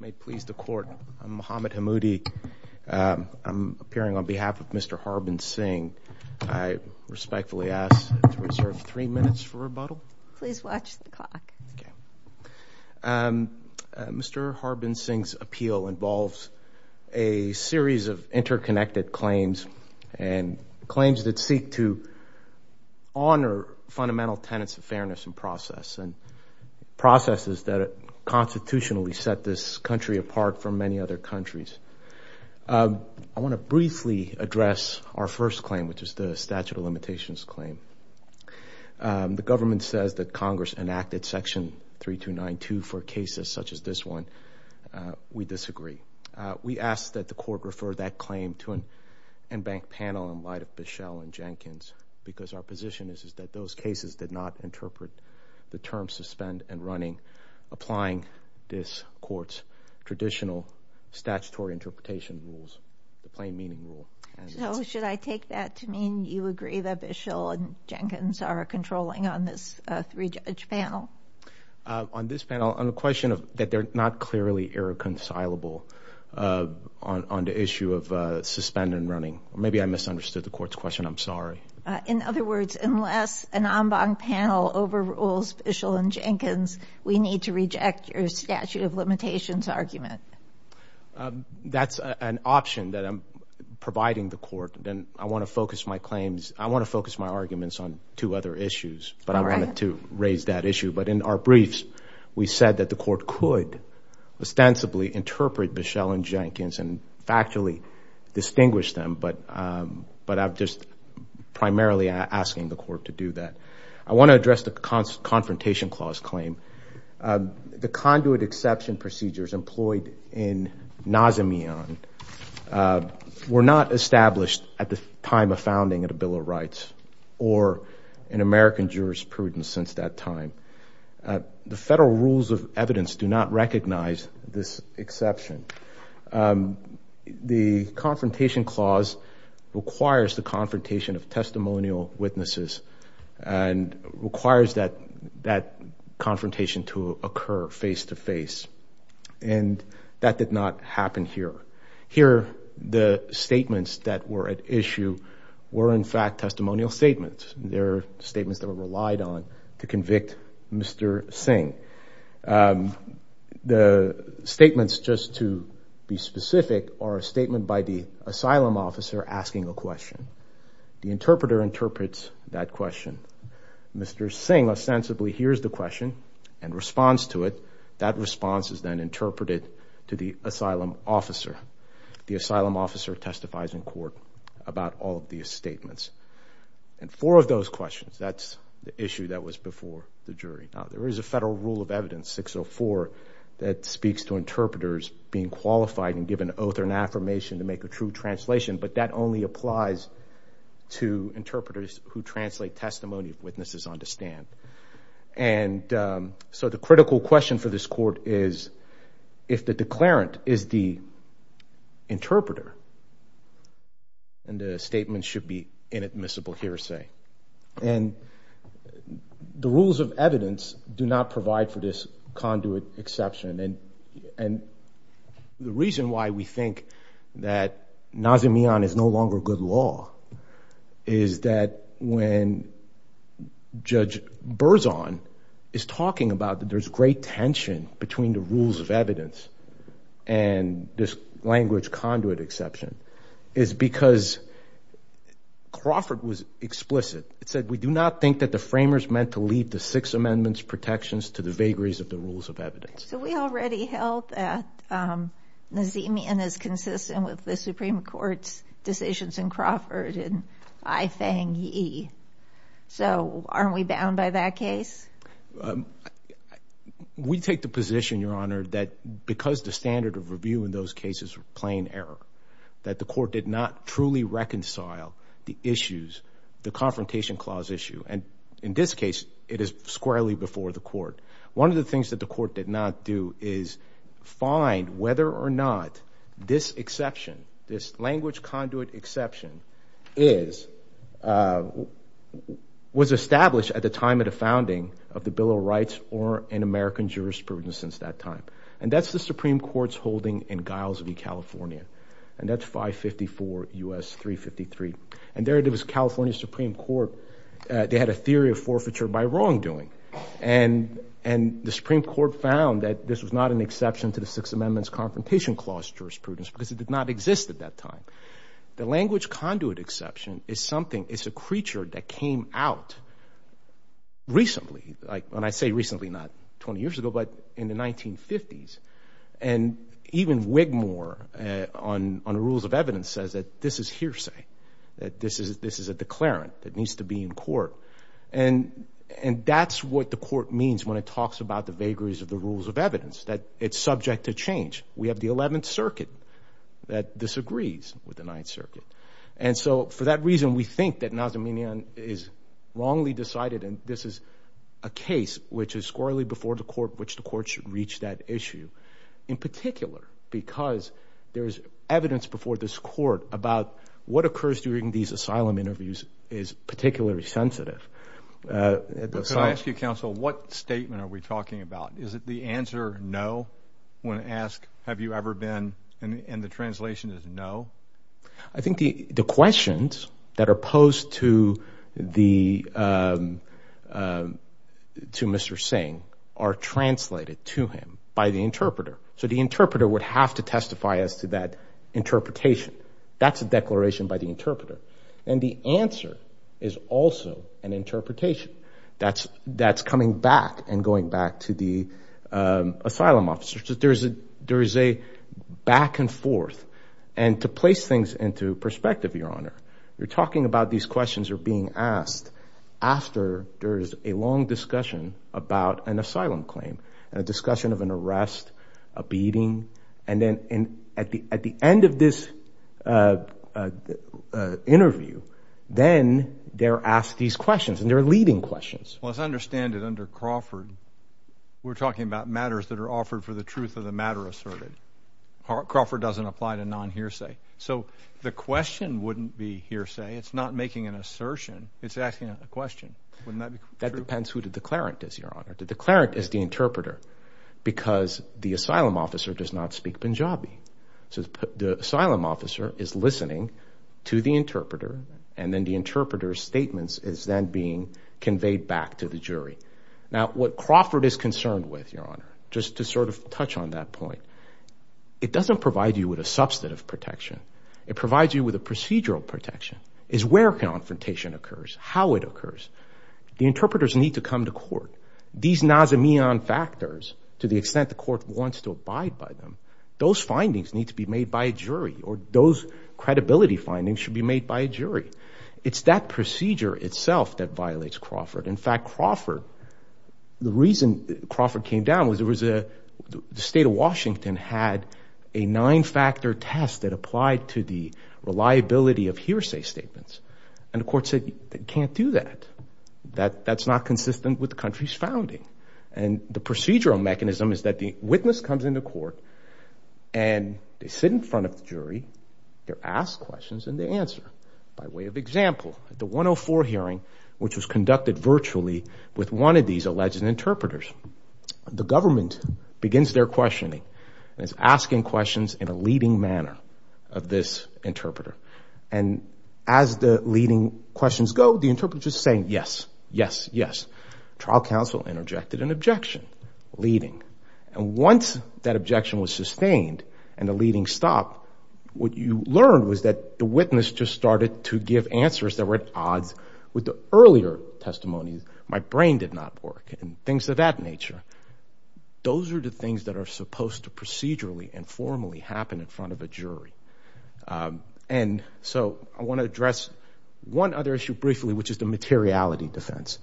May it please the court, I'm Mohamed Hammoudi, I'm appearing on behalf of Mr. Harbans Singh. I respectfully ask to reserve three minutes for rebuttal. Please watch the clock. Mr. Harbans Singh's appeal involves a series of interconnected claims, and claims that seek to honor fundamental tenets of fairness and process, and processes that constitutionally set this country apart from many other countries. I want to briefly address our first claim, which is the statute of limitations claim. The government says that Congress enacted section 3292 for cases such as this one. We disagree. We ask that the court refer that claim to an embanked panel in light of Bishel and Jenkins, because our position is that those cases did not interpret the term suspend and running, applying this court's traditional statutory interpretation rules, the plain meaning rule. So should I take that to mean you agree that Bishel and Jenkins are controlling on this three-judge panel? On this panel, on the question that they're not clearly irreconcilable on the issue of suspend and running. Maybe I misunderstood the court's question. I'm sorry. In other words, unless an embanked panel overrules Bishel and Jenkins, we need to reject your statute of limitations argument. That's an option that I'm providing the court. And I want to focus my claims, I want to focus my arguments on two other issues. But I wanted to raise that issue. But in our briefs, we said that the court could ostensibly interpret Bishel and Jenkins, and factually distinguish them. But I'm just primarily asking the court to do that. I want to address the confrontation clause claim. The conduit exception procedures employed in Nazamian were not established at the time of founding of the Bill of Rights, or in American jurisprudence since that time. The federal rules of evidence do not recognize this exception. The confrontation clause requires the confrontation of testimonial witnesses, and requires that confrontation to occur face-to-face. And that did not happen here. Here, the statements that were at issue were, in fact, testimonial statements. They're statements that were relied on to convict Mr. Singh. The statements, just to be specific, are a statement by the asylum officer asking a question. The interpreter interprets that question. Mr. Singh ostensibly hears the question and responds to it. That response is then interpreted to the asylum officer. The asylum officer testifies in court about all of these statements. And four of those questions, that's the issue that was before the jury. Now, there is a federal rule of evidence, 604, that speaks to interpreters being qualified and given an oath or an affirmation to make a true translation. But that only applies to interpreters who translate testimony if witnesses understand. And so the critical question for this court is, if the declarant is the interpreter and the statement should be inadmissible hearsay. And the rules of evidence do not provide for this conduit exception. And the reason why we think that Nazimiyan is no longer good law is that when Judge Berzon is talking about that there's great tension between the rules of evidence and this language conduit exception is because Crawford was explicit. It said, we do not think that the framers meant to leave the six amendments protections to the vagaries of the rules of evidence. So we already held that Nazimiyan is consistent with the Supreme Court's decisions in Crawford and I fang yee. So aren't we bound by that case? We take the position, Your Honor, that because the standard of review in those cases were plain error, that the court did not truly reconcile the issues, the confrontation clause issue. And in this case, it is squarely before the court. One of the things that the court did not do is find whether or not this exception, this language conduit exception is, was established at the time of the founding of the Bill of Rights or in American jurisprudence since that time. And that's the Supreme Court's holding in Guyles v. California. And that's 554 U.S. 353. And there it is, California Supreme Court, they had a theory of forfeiture by wrongdoing. And the Supreme Court found that this was not an exception to the six amendments confrontation clause jurisprudence because it did not exist at that time. The language conduit exception is something, it's a creature that came out recently, like when I say recently, not 20 years ago, but in the 1950s. And even Wigmore on the rules of evidence says that this is hearsay, that this is a declarant that needs to be in court. And that's what the court means when it talks about the vagaries of the rules of evidence, that it's subject to change. We have the 11th Circuit that disagrees with the 9th Circuit. And so for that reason, we think that Nazarmenian is wrongly decided, and this is a case which is squarely before the court, which the court should reach that issue. In particular, because there's evidence before this court about what occurs during these asylum interviews is particularly sensitive. Could I ask you, counsel, what statement are we talking about? Is it the answer no when asked, have you ever been, and the translation is no? I think the questions that are posed to Mr. Singh are translated to him by the interpreter. So the interpreter would have to testify as to that interpretation. That's a declaration by the interpreter. And the answer is also an interpretation that's coming back and going back to the asylum officer. There is a back and forth. And to place things into perspective, Your Honor, you're talking about these questions are being asked after there is a long discussion about an asylum claim and then at the end of this interview, then they're asked these questions, and they're leading questions. Well, as I understand it, under Crawford, we're talking about matters that are offered for the truth of the matter asserted. Crawford doesn't apply to non-hearsay. So the question wouldn't be hearsay. It's not making an assertion. It's asking a question. Wouldn't that be true? That depends who the declarant is, Your Honor. The declarant is the interpreter because the asylum officer does not speak Punjabi. So the asylum officer is listening to the interpreter, and then the interpreter's statements is then being conveyed back to the jury. Now, what Crawford is concerned with, Your Honor, just to sort of touch on that point, it doesn't provide you with a substantive protection. It provides you with a procedural protection. It's where confrontation occurs, how it occurs. The interpreters need to come to court. These Nazamian factors, to the extent the court wants to abide by them, those findings need to be made by a jury, or those credibility findings should be made by a jury. It's that procedure itself that violates Crawford. In fact, Crawford, the reason Crawford came down was the state of Washington had a nine-factor test that applied to the reliability of hearsay statements, and the court said, you can't do that. That's not consistent with the country's founding. And the procedural mechanism is that the witness comes into court, and they sit in front of the jury. They're asked questions, and they answer by way of example. At the 104 hearing, which was conducted virtually with one of these alleged interpreters, the government begins their questioning and is asking questions in a leading manner of this interpreter. And as the leading questions go, the interpreter is just saying, yes, yes, yes. Trial counsel interjected an objection, leading. And once that objection was sustained and the leading stopped, what you learned was that the witness just started to give answers that were at odds with the earlier testimonies. My brain did not work, and things of that nature. Those are the things that are supposed to procedurally and formally happen in front of a jury. And so I want to address one other issue briefly, which is the materiality defense.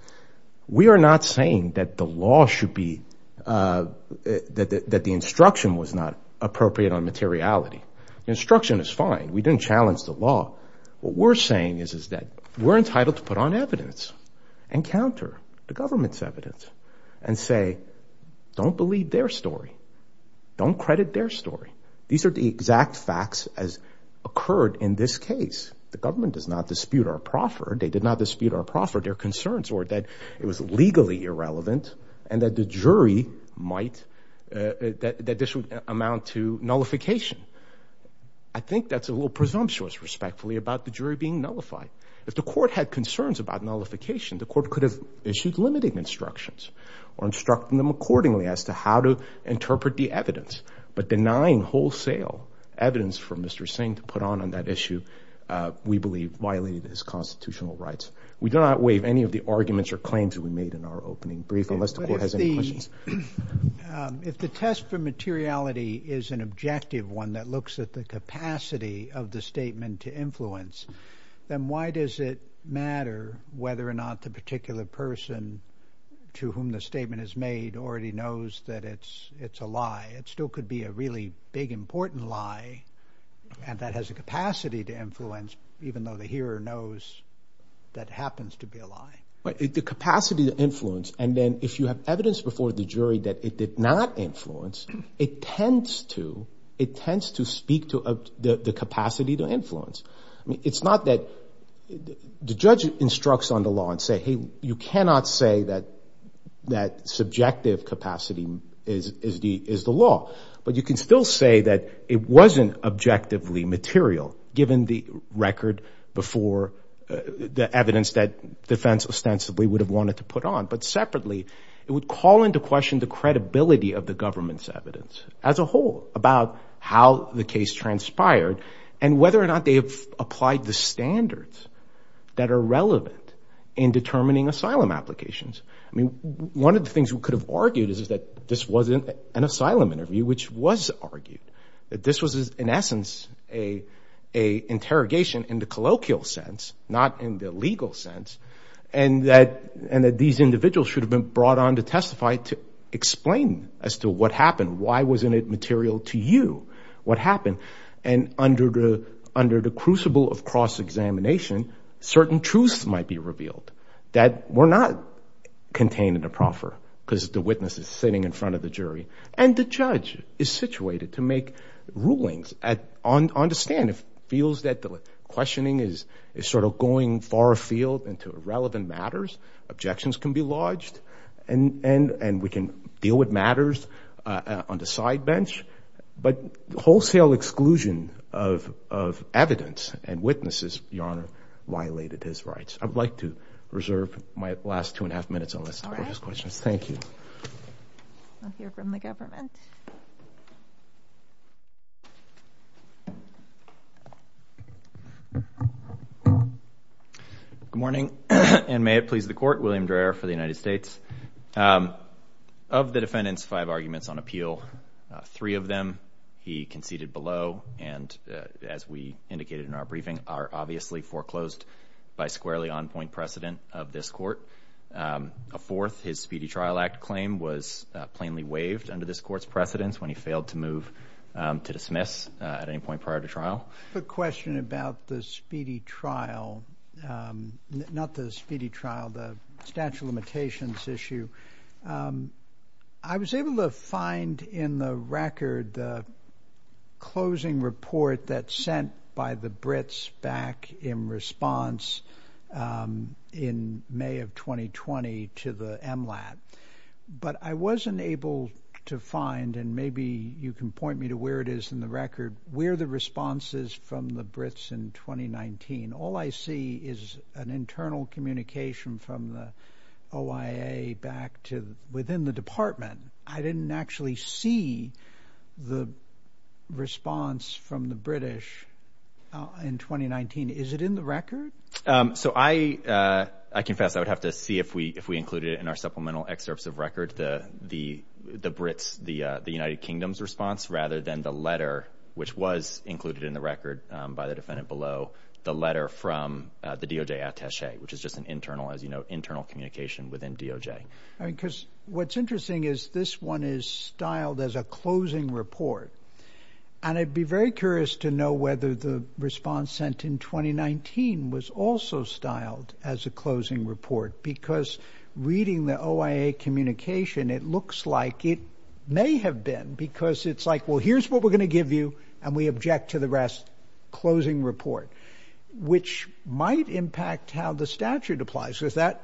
We are not saying that the law should be – that the instruction was not appropriate on materiality. The instruction is fine. We didn't challenge the law. What we're saying is that we're entitled to put on evidence and counter the government's evidence and say, don't believe their story. Don't credit their story. These are the exact facts as occurred in this case. The government does not dispute our proffer. They did not dispute our proffer. Their concerns were that it was legally irrelevant and that the jury might – that this would amount to nullification. I think that's a little presumptuous, respectfully, about the jury being nullified. If the court had concerns about nullification, the court could have issued limiting instructions or instructed them accordingly as to how to interpret the evidence. But denying wholesale evidence for Mr. Singh to put on on that issue, we believe, violated his constitutional rights. We do not waive any of the arguments or claims that we made in our opening brief, unless the court has any questions. But if the test for materiality is an objective one that looks at the capacity of the statement to influence, then why does it matter whether or not the particular person to whom the statement is made already knows that it's a lie? It still could be a really big, important lie and that has a capacity to influence, even though the hearer knows that it happens to be a lie. The capacity to influence, and then if you have evidence before the jury that it did not influence, it tends to speak to the capacity to influence. I mean, it's not that the judge instructs on the law and say, hey, you cannot say that subjective capacity is the law. But you can still say that it wasn't objectively material, given the record before the evidence that defense ostensibly would have wanted to put on. But separately, it would call into question the credibility of the government's evidence as a whole about how the case transpired and whether or not they have applied the standards that are relevant in determining asylum applications. I mean, one of the things we could have argued is that this wasn't an asylum interview, which was argued. That this was, in essence, an interrogation in the colloquial sense, not in the legal sense, and that these individuals should have been brought on to testify to explain as to what happened. Why wasn't it material to you what happened? And under the crucible of cross-examination, certain truths might be revealed that were not contained in the proffer because the witness is sitting in front of the jury. And the judge is situated to make rulings on the stand. If he feels that the questioning is sort of going far afield into irrelevant matters, objections can be lodged, and we can deal with matters on the side bench. But wholesale exclusion of evidence and witnesses, Your Honor, violated his rights. I would like to reserve my last two and a half minutes on this. All right. We'll hear from the government. Good morning, and may it please the court. William Dreher for the United States. Of the defendant's five arguments on appeal, three of them he conceded below, and as we indicated in our briefing, are obviously foreclosed by squarely on-point precedent of this court. A fourth, his Speedy Trial Act claim was plainly waived under this court's precedence when he failed to move to dismiss at any point prior to trial. A question about the Speedy Trial, not the Speedy Trial, the statute of limitations issue. I was able to find in the record the closing report that sent by the Brits back in response in May of 2020 to the MLAT. But I wasn't able to find, and maybe you can point me to where it is in the record, where the response is from the Brits in 2019. All I see is an internal communication from the OIA back to within the department. I didn't actually see the response from the British in 2019. Is it in the record? So I confess I would have to see if we included it in our supplemental excerpts of record, the Brits, the United Kingdom's response, rather than the letter, which was included in the record by the defendant below, the letter from the DOJ attache, which is just an internal, as you know, internal communication within DOJ. Because what's interesting is this one is styled as a closing report, and I'd be very curious to know whether the response sent in 2019 was also styled as a closing report, because reading the OIA communication, it looks like it may have been, because it's like, well, here's what we're going to give you, and we object to the rest. Closing report, which might impact how the statute applies, because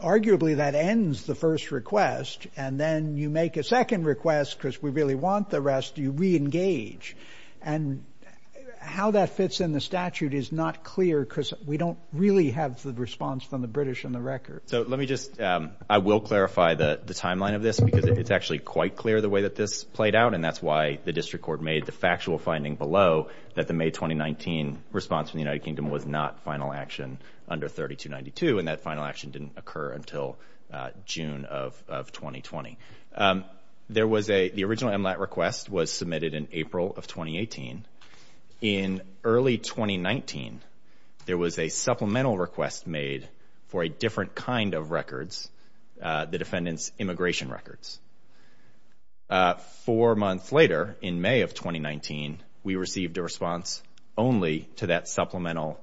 arguably that ends the first request, and then you make a second request because we really want the rest, you re-engage. And how that fits in the statute is not clear, because we don't really have the response from the British in the record. So let me just, I will clarify the timeline of this, because it's actually quite clear the way that this played out, and that's why the district court made the factual finding below that the May 2019 response from the United Kingdom was not final action under 3292, and that final action didn't occur until June of 2020. There was a, the original MLAT request was submitted in April of 2018. In early 2019, there was a supplemental request made for a different kind of records, the defendant's immigration records. Four months later, in May of 2019, we received a response only to that supplemental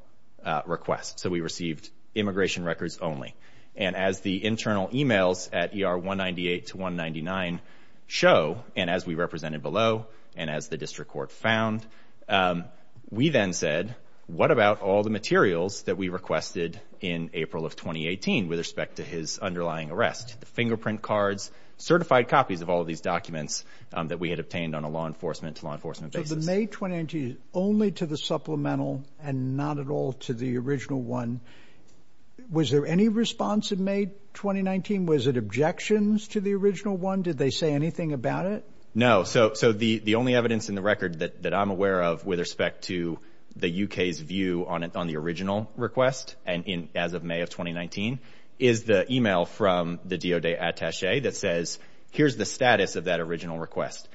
request. So we received immigration records only. And as the internal emails at ER 198 to 199 show, and as we represented below, and as the district court found, we then said, what about all the materials that we requested in April of 2018 with respect to his underlying arrest? The fingerprint cards, certified copies of all of these documents that we had obtained on a law enforcement to law enforcement basis. So the May 2019 is only to the supplemental and not at all to the original one. Was there any response in May 2019? Was it objections to the original one? Did they say anything about it? No. So the only evidence in the record that I'm aware of with respect to the U.K.'s view on the original request, and as of May of 2019, is the email from the DOJ attache that says, here's the status of that original request.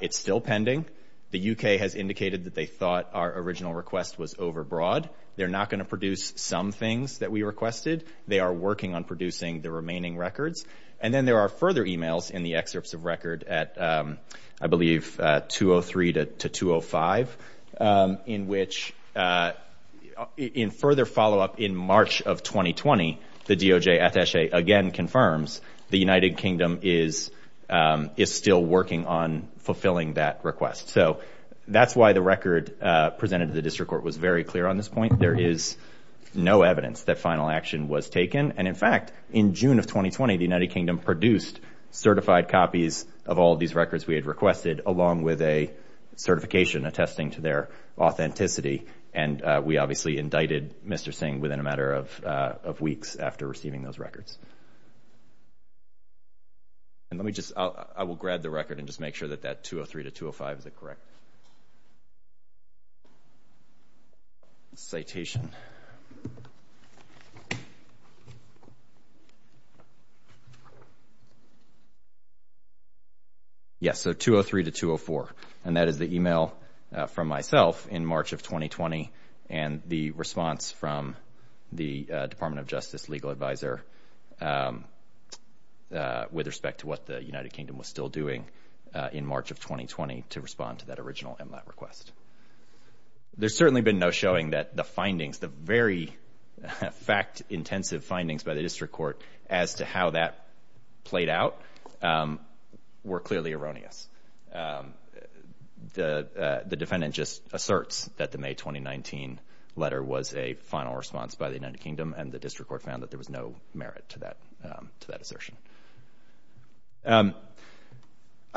It's still pending. The U.K. has indicated that they thought our original request was overbroad. They're not going to produce some things that we requested. They are working on producing the remaining records. And then there are further emails in the excerpts of record at, I believe, 203 to 205, in which in further follow-up in March of 2020, the DOJ attache again confirms the United Kingdom is still working on fulfilling that request. So that's why the record presented to the district court was very clear on this point. There is no evidence that final action was taken. And, in fact, in June of 2020, the United Kingdom produced certified copies of all these records we had requested, along with a certification attesting to their authenticity. And we obviously indicted Mr. Singh within a matter of weeks after receiving those records. And let me just – I will grab the record and just make sure that that 203 to 205 is correct. Citation. Citation. Yes, so 203 to 204. And that is the email from myself in March of 2020 and the response from the Department of Justice legal advisor with respect to what the United Kingdom was still doing in March of 2020 to respond to that original MLAT request. There's certainly been no showing that the findings, the very fact-intensive findings by the district court as to how that played out were clearly erroneous. The defendant just asserts that the May 2019 letter was a final response by the United Kingdom, and the district court found that there was no merit to that assertion. I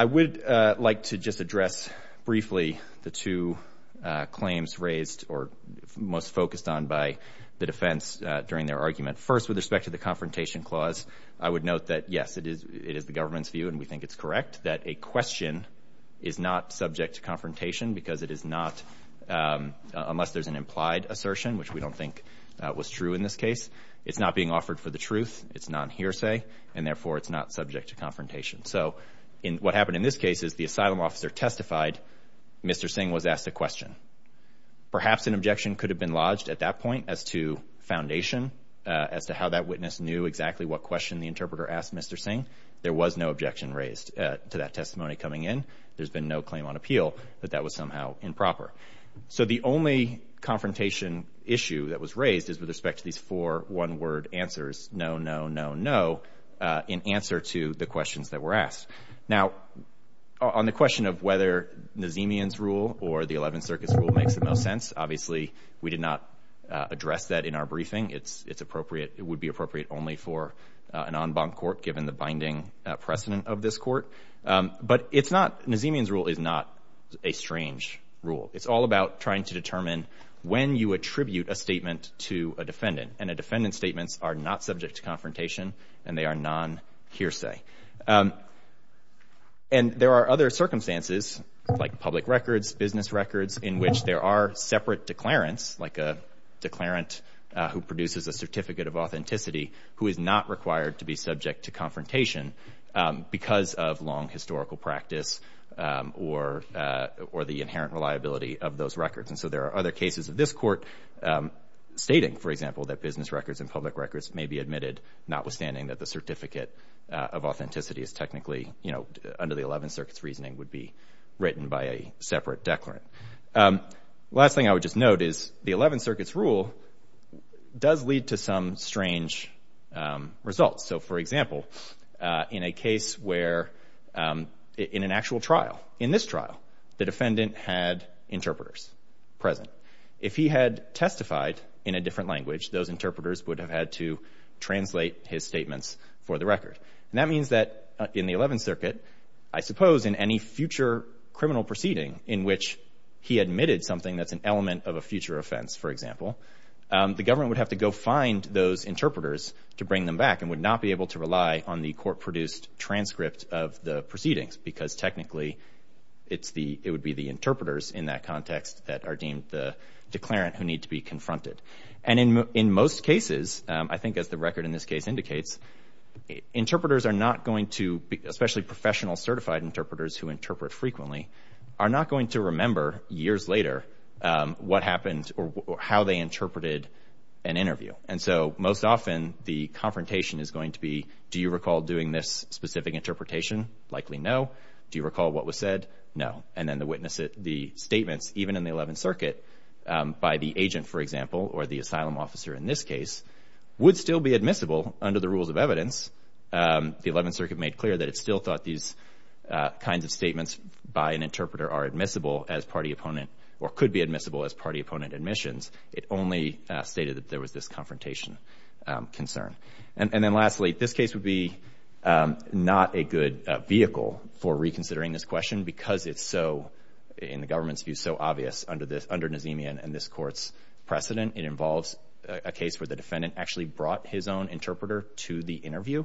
would like to just address briefly the two claims raised or most focused on by the defense during their argument. First, with respect to the confrontation clause, I would note that, yes, it is the government's view, and we think it's correct, that a question is not subject to confrontation because it is not – unless there's an implied assertion, which we don't think was true in this case. It's not being offered for the truth. It's non-hearsay, and therefore it's not subject to confrontation. So what happened in this case is the asylum officer testified. Mr. Singh was asked a question. Perhaps an objection could have been lodged at that point as to foundation, as to how that witness knew exactly what question the interpreter asked Mr. Singh. There was no objection raised to that testimony coming in. There's been no claim on appeal that that was somehow improper. So the only confrontation issue that was raised is with respect to these four one-word answers, no, no, no, no, in answer to the questions that were asked. Now, on the question of whether Nazemian's rule or the Eleventh Circus rule makes the most sense, obviously we did not address that in our briefing. It's appropriate – it would be appropriate only for an en banc court, given the binding precedent of this court. But it's not – Nazemian's rule is not a strange rule. It's all about trying to determine when you attribute a statement to a defendant, and a defendant's statements are not subject to confrontation and they are non-hearsay. And there are other circumstances, like public records, business records, in which there are separate declarants, like a declarant who produces a certificate of authenticity, who is not required to be subject to confrontation because of long historical practice or the inherent reliability of those records. And so there are other cases of this court stating, for example, that business records and public records may be admitted, notwithstanding that the certificate of authenticity is technically, you know, under the Eleventh Circuit's reasoning would be written by a separate declarant. The last thing I would just note is the Eleventh Circuit's rule does lead to some strange results. So, for example, in a case where – in an actual trial, in this trial, the defendant had interpreters present. If he had testified in a different language, those interpreters would have had to translate his statements for the record. And that means that in the Eleventh Circuit, I suppose in any future criminal proceeding in which he admitted something that's an element of a future offense, for example, the government would have to go find those interpreters to bring them back and would not be able to rely on the court-produced transcript of the proceedings because technically it would be the interpreters in that context that are deemed the declarant who need to be confronted. And in most cases, I think as the record in this case indicates, interpreters are not going to – especially professional certified interpreters who interpret frequently – are not going to remember years later what happened or how they interpreted an interview. And so most often the confrontation is going to be, do you recall doing this specific interpretation? Likely no. Do you recall what was said? No. And then the witness – the statements, even in the Eleventh Circuit, by the agent, for example, or the asylum officer in this case, would still be admissible under the rules of evidence. The Eleventh Circuit made clear that it still thought these kinds of statements by an interpreter are admissible as party opponent – or could be admissible as party opponent admissions. It only stated that there was this confrontation concern. And then lastly, this case would be not a good vehicle for reconsidering this question because it's so, in the government's view, so obvious under Nazemian and this Court's precedent. It involves a case where the defendant actually brought his own interpreter to the interview.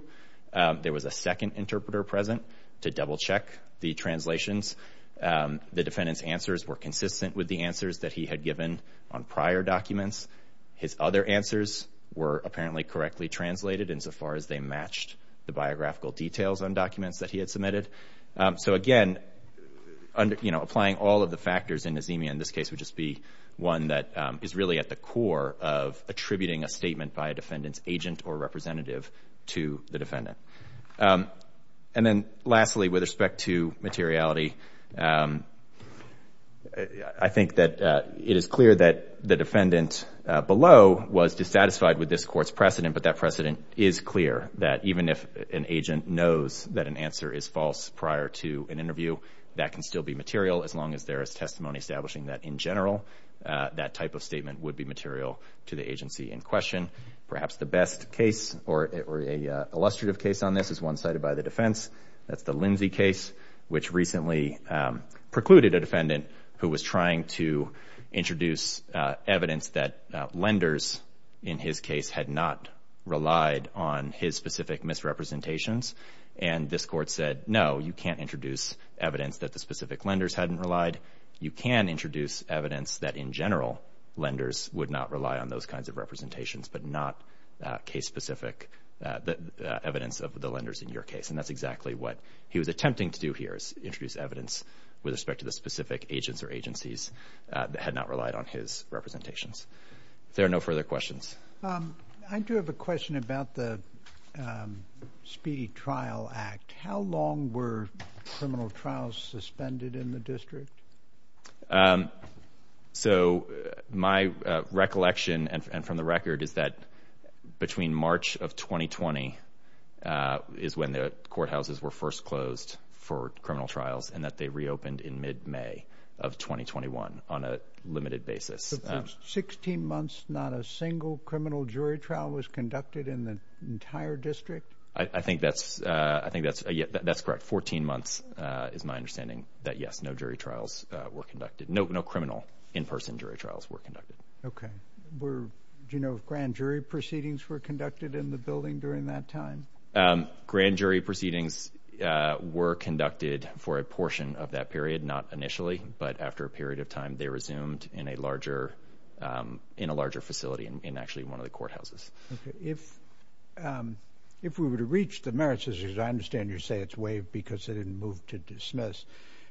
There was a second interpreter present to double-check the translations. The defendant's answers were consistent with the answers that he had given on prior documents. His other answers were apparently correctly translated insofar as they matched the biographical details on documents that he had submitted. So again, applying all of the factors in Nazemian, this case would just be one that is really at the core of attributing a statement by a defendant's agent or representative to the defendant. And then lastly, with respect to materiality, I think that it is clear that the defendant below was dissatisfied with this Court's precedent, but that precedent is clear that even if an agent knows that an answer is false prior to an interview, that can still be material as long as there is testimony establishing that, in general, that type of statement would be material to the agency in question. Perhaps the best case or an illustrative case on this is one cited by the defense. That's the Lindsay case, which recently precluded a defendant who was trying to introduce evidence that lenders in his case had not relied on his specific misrepresentations. And this Court said, no, you can't introduce evidence that the specific lenders hadn't relied. You can introduce evidence that, in general, lenders would not rely on those kinds of representations, but not case-specific evidence of the lenders in your case. And that's exactly what he was attempting to do here, is introduce evidence with respect to the specific agents or agencies that had not relied on his representations. If there are no further questions. I do have a question about the Speedy Trial Act. How long were criminal trials suspended in the district? So my recollection, and from the record, is that between March of 2020 is when the courthouses were first closed for criminal trials, and that they reopened in mid-May of 2021 on a limited basis. So for 16 months, not a single criminal jury trial was conducted in the entire district? I think that's correct. Fourteen months is my understanding that, yes, no jury trials were conducted. No criminal in-person jury trials were conducted. Okay. Do you know if grand jury proceedings were conducted in the building during that time? Grand jury proceedings were conducted for a portion of that period, not initially, but after a period of time, they resumed in a larger facility, in actually one of the courthouses. Okay. If we were to reach the merits, as I understand you're saying it's waived because they didn't move to dismiss,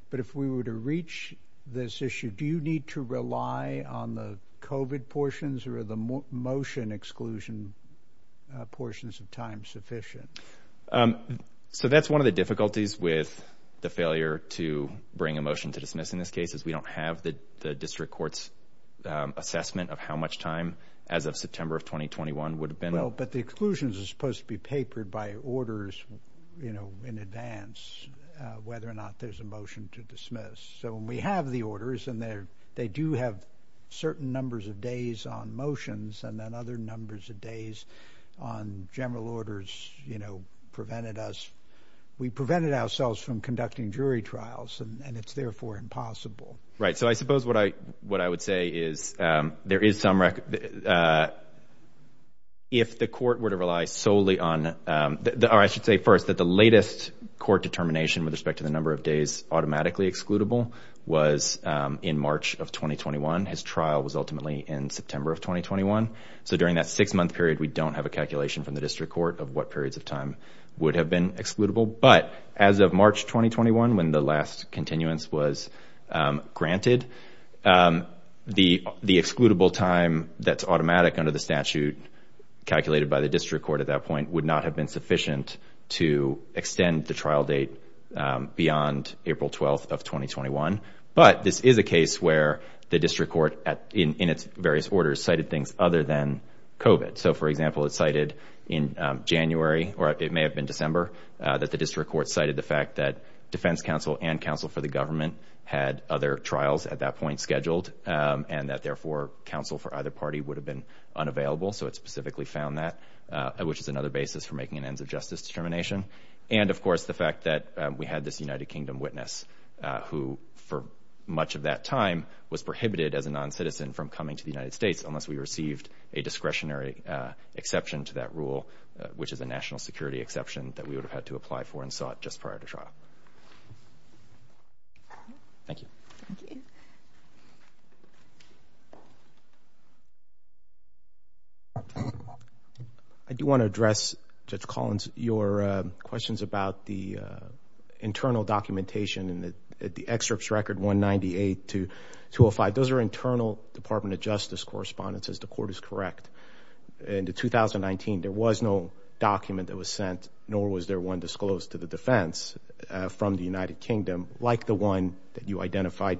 but if we were to reach this issue, do you need to rely on the COVID portions or are the motion exclusion portions of time sufficient? So that's one of the difficulties with the failure to bring a motion to dismiss in this case, is we don't have the district court's assessment of how much time as of September of 2021 would have been. Well, but the exclusions are supposed to be papered by orders, you know, in advance, whether or not there's a motion to dismiss. So when we have the orders and they do have certain numbers of days on motions and then other numbers of days on general orders, you know, prevented us, we prevented ourselves from conducting jury trials and it's therefore impossible. Right. So I suppose what I would say is there is some record. If the court were to rely solely on, or I should say first that the latest court determination with respect to the number of days So during that six month period, we don't have a calculation from the district court of what periods of time would have been excludable. But as of March 2021, when the last continuance was granted, the excludable time that's automatic under the statute calculated by the district court at that point would not have been sufficient to extend the trial date beyond April 12th of 2021. But this is a case where the district court in its various orders cited things other than COVID. So, for example, it's cited in January or it may have been December that the district court cited the fact that defense counsel and counsel for the government had other trials at that point scheduled and that therefore counsel for either party would have been unavailable. So it specifically found that which is another basis for making an ends of justice determination. And of course, the fact that we had this United Kingdom witness who for much of that time was prohibited as a non-citizen from coming to the United States unless we received a discretionary exception to that rule, which is a national security exception that we would have had to apply for and sought just prior to trial. Thank you. I do want to address, Judge Collins, your questions about the internal documentation and the excerpts record 198 to 205. Those are internal Department of Justice correspondences. The court is correct. In 2019, there was no document that was sent, nor was there one disclosed to the defense from the United Kingdom, like the one that you identified.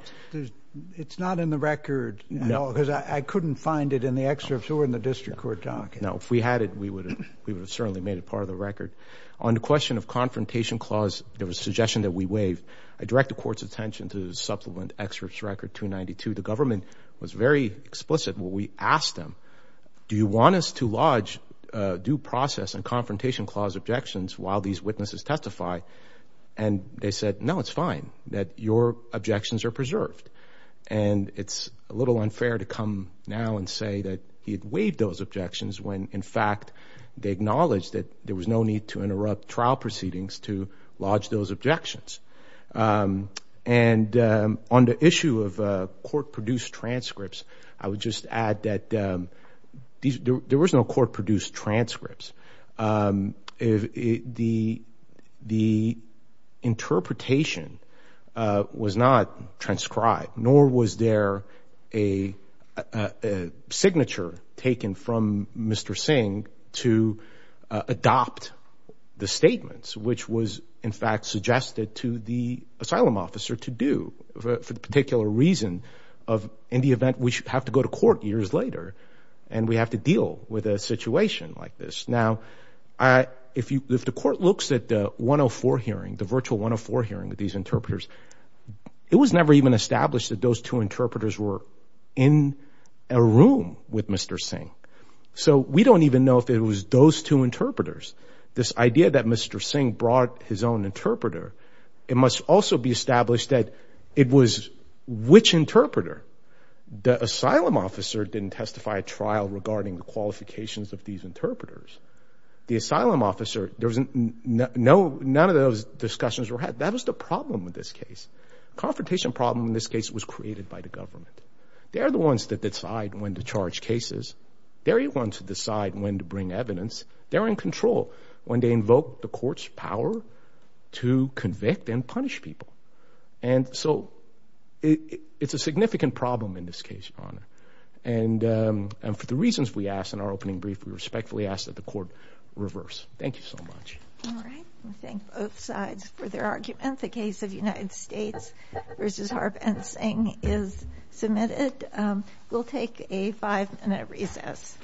It's not in the record at all because I couldn't find it in the excerpts or in the district court documents. No. If we had it, we would have certainly made it part of the record. On the question of confrontation clause, there was a suggestion that we waive. I direct the court's attention to the supplement excerpts record 292. The government was very explicit when we asked them, do you want us to lodge due process and confrontation clause objections while these witnesses testify? They said, no, it's fine, that your objections are preserved. It's a little unfair to come now and say that he had waived those objections when, in fact, they acknowledged that there was no need to interrupt trial proceedings to lodge those objections. On the issue of court-produced transcripts, I would just add that there was no court-produced transcripts. The interpretation was not transcribed, nor was there a signature taken from Mr. Singh to adopt the statements, which was, in fact, suggested to the asylum officer to do for the particular reason of in the event we have to go to court years later and we have to deal with a situation like this. Now, if the court looks at the 104 hearing, the virtual 104 hearing with these interpreters, it was never even established that those two interpreters were in a room with Mr. Singh. So we don't even know if it was those two interpreters. This idea that Mr. Singh brought his own interpreter, it must also be established that it was which interpreter. The asylum officer didn't testify at trial regarding the qualifications of these interpreters. The asylum officer, none of those discussions were had. That was the problem with this case. Confrontation problem in this case was created by the government. They're the ones that decide when to charge cases. They're the ones who decide when to bring evidence. They're in control when they invoke the court's power to convict and punish people. And so it's a significant problem in this case, Your Honor. And for the reasons we asked in our opening brief, we respectfully ask that the court reverse. Thank you so much. Thank both sides for their argument. The case of United States v. Harp and Singh is submitted. We'll take a five minute recess.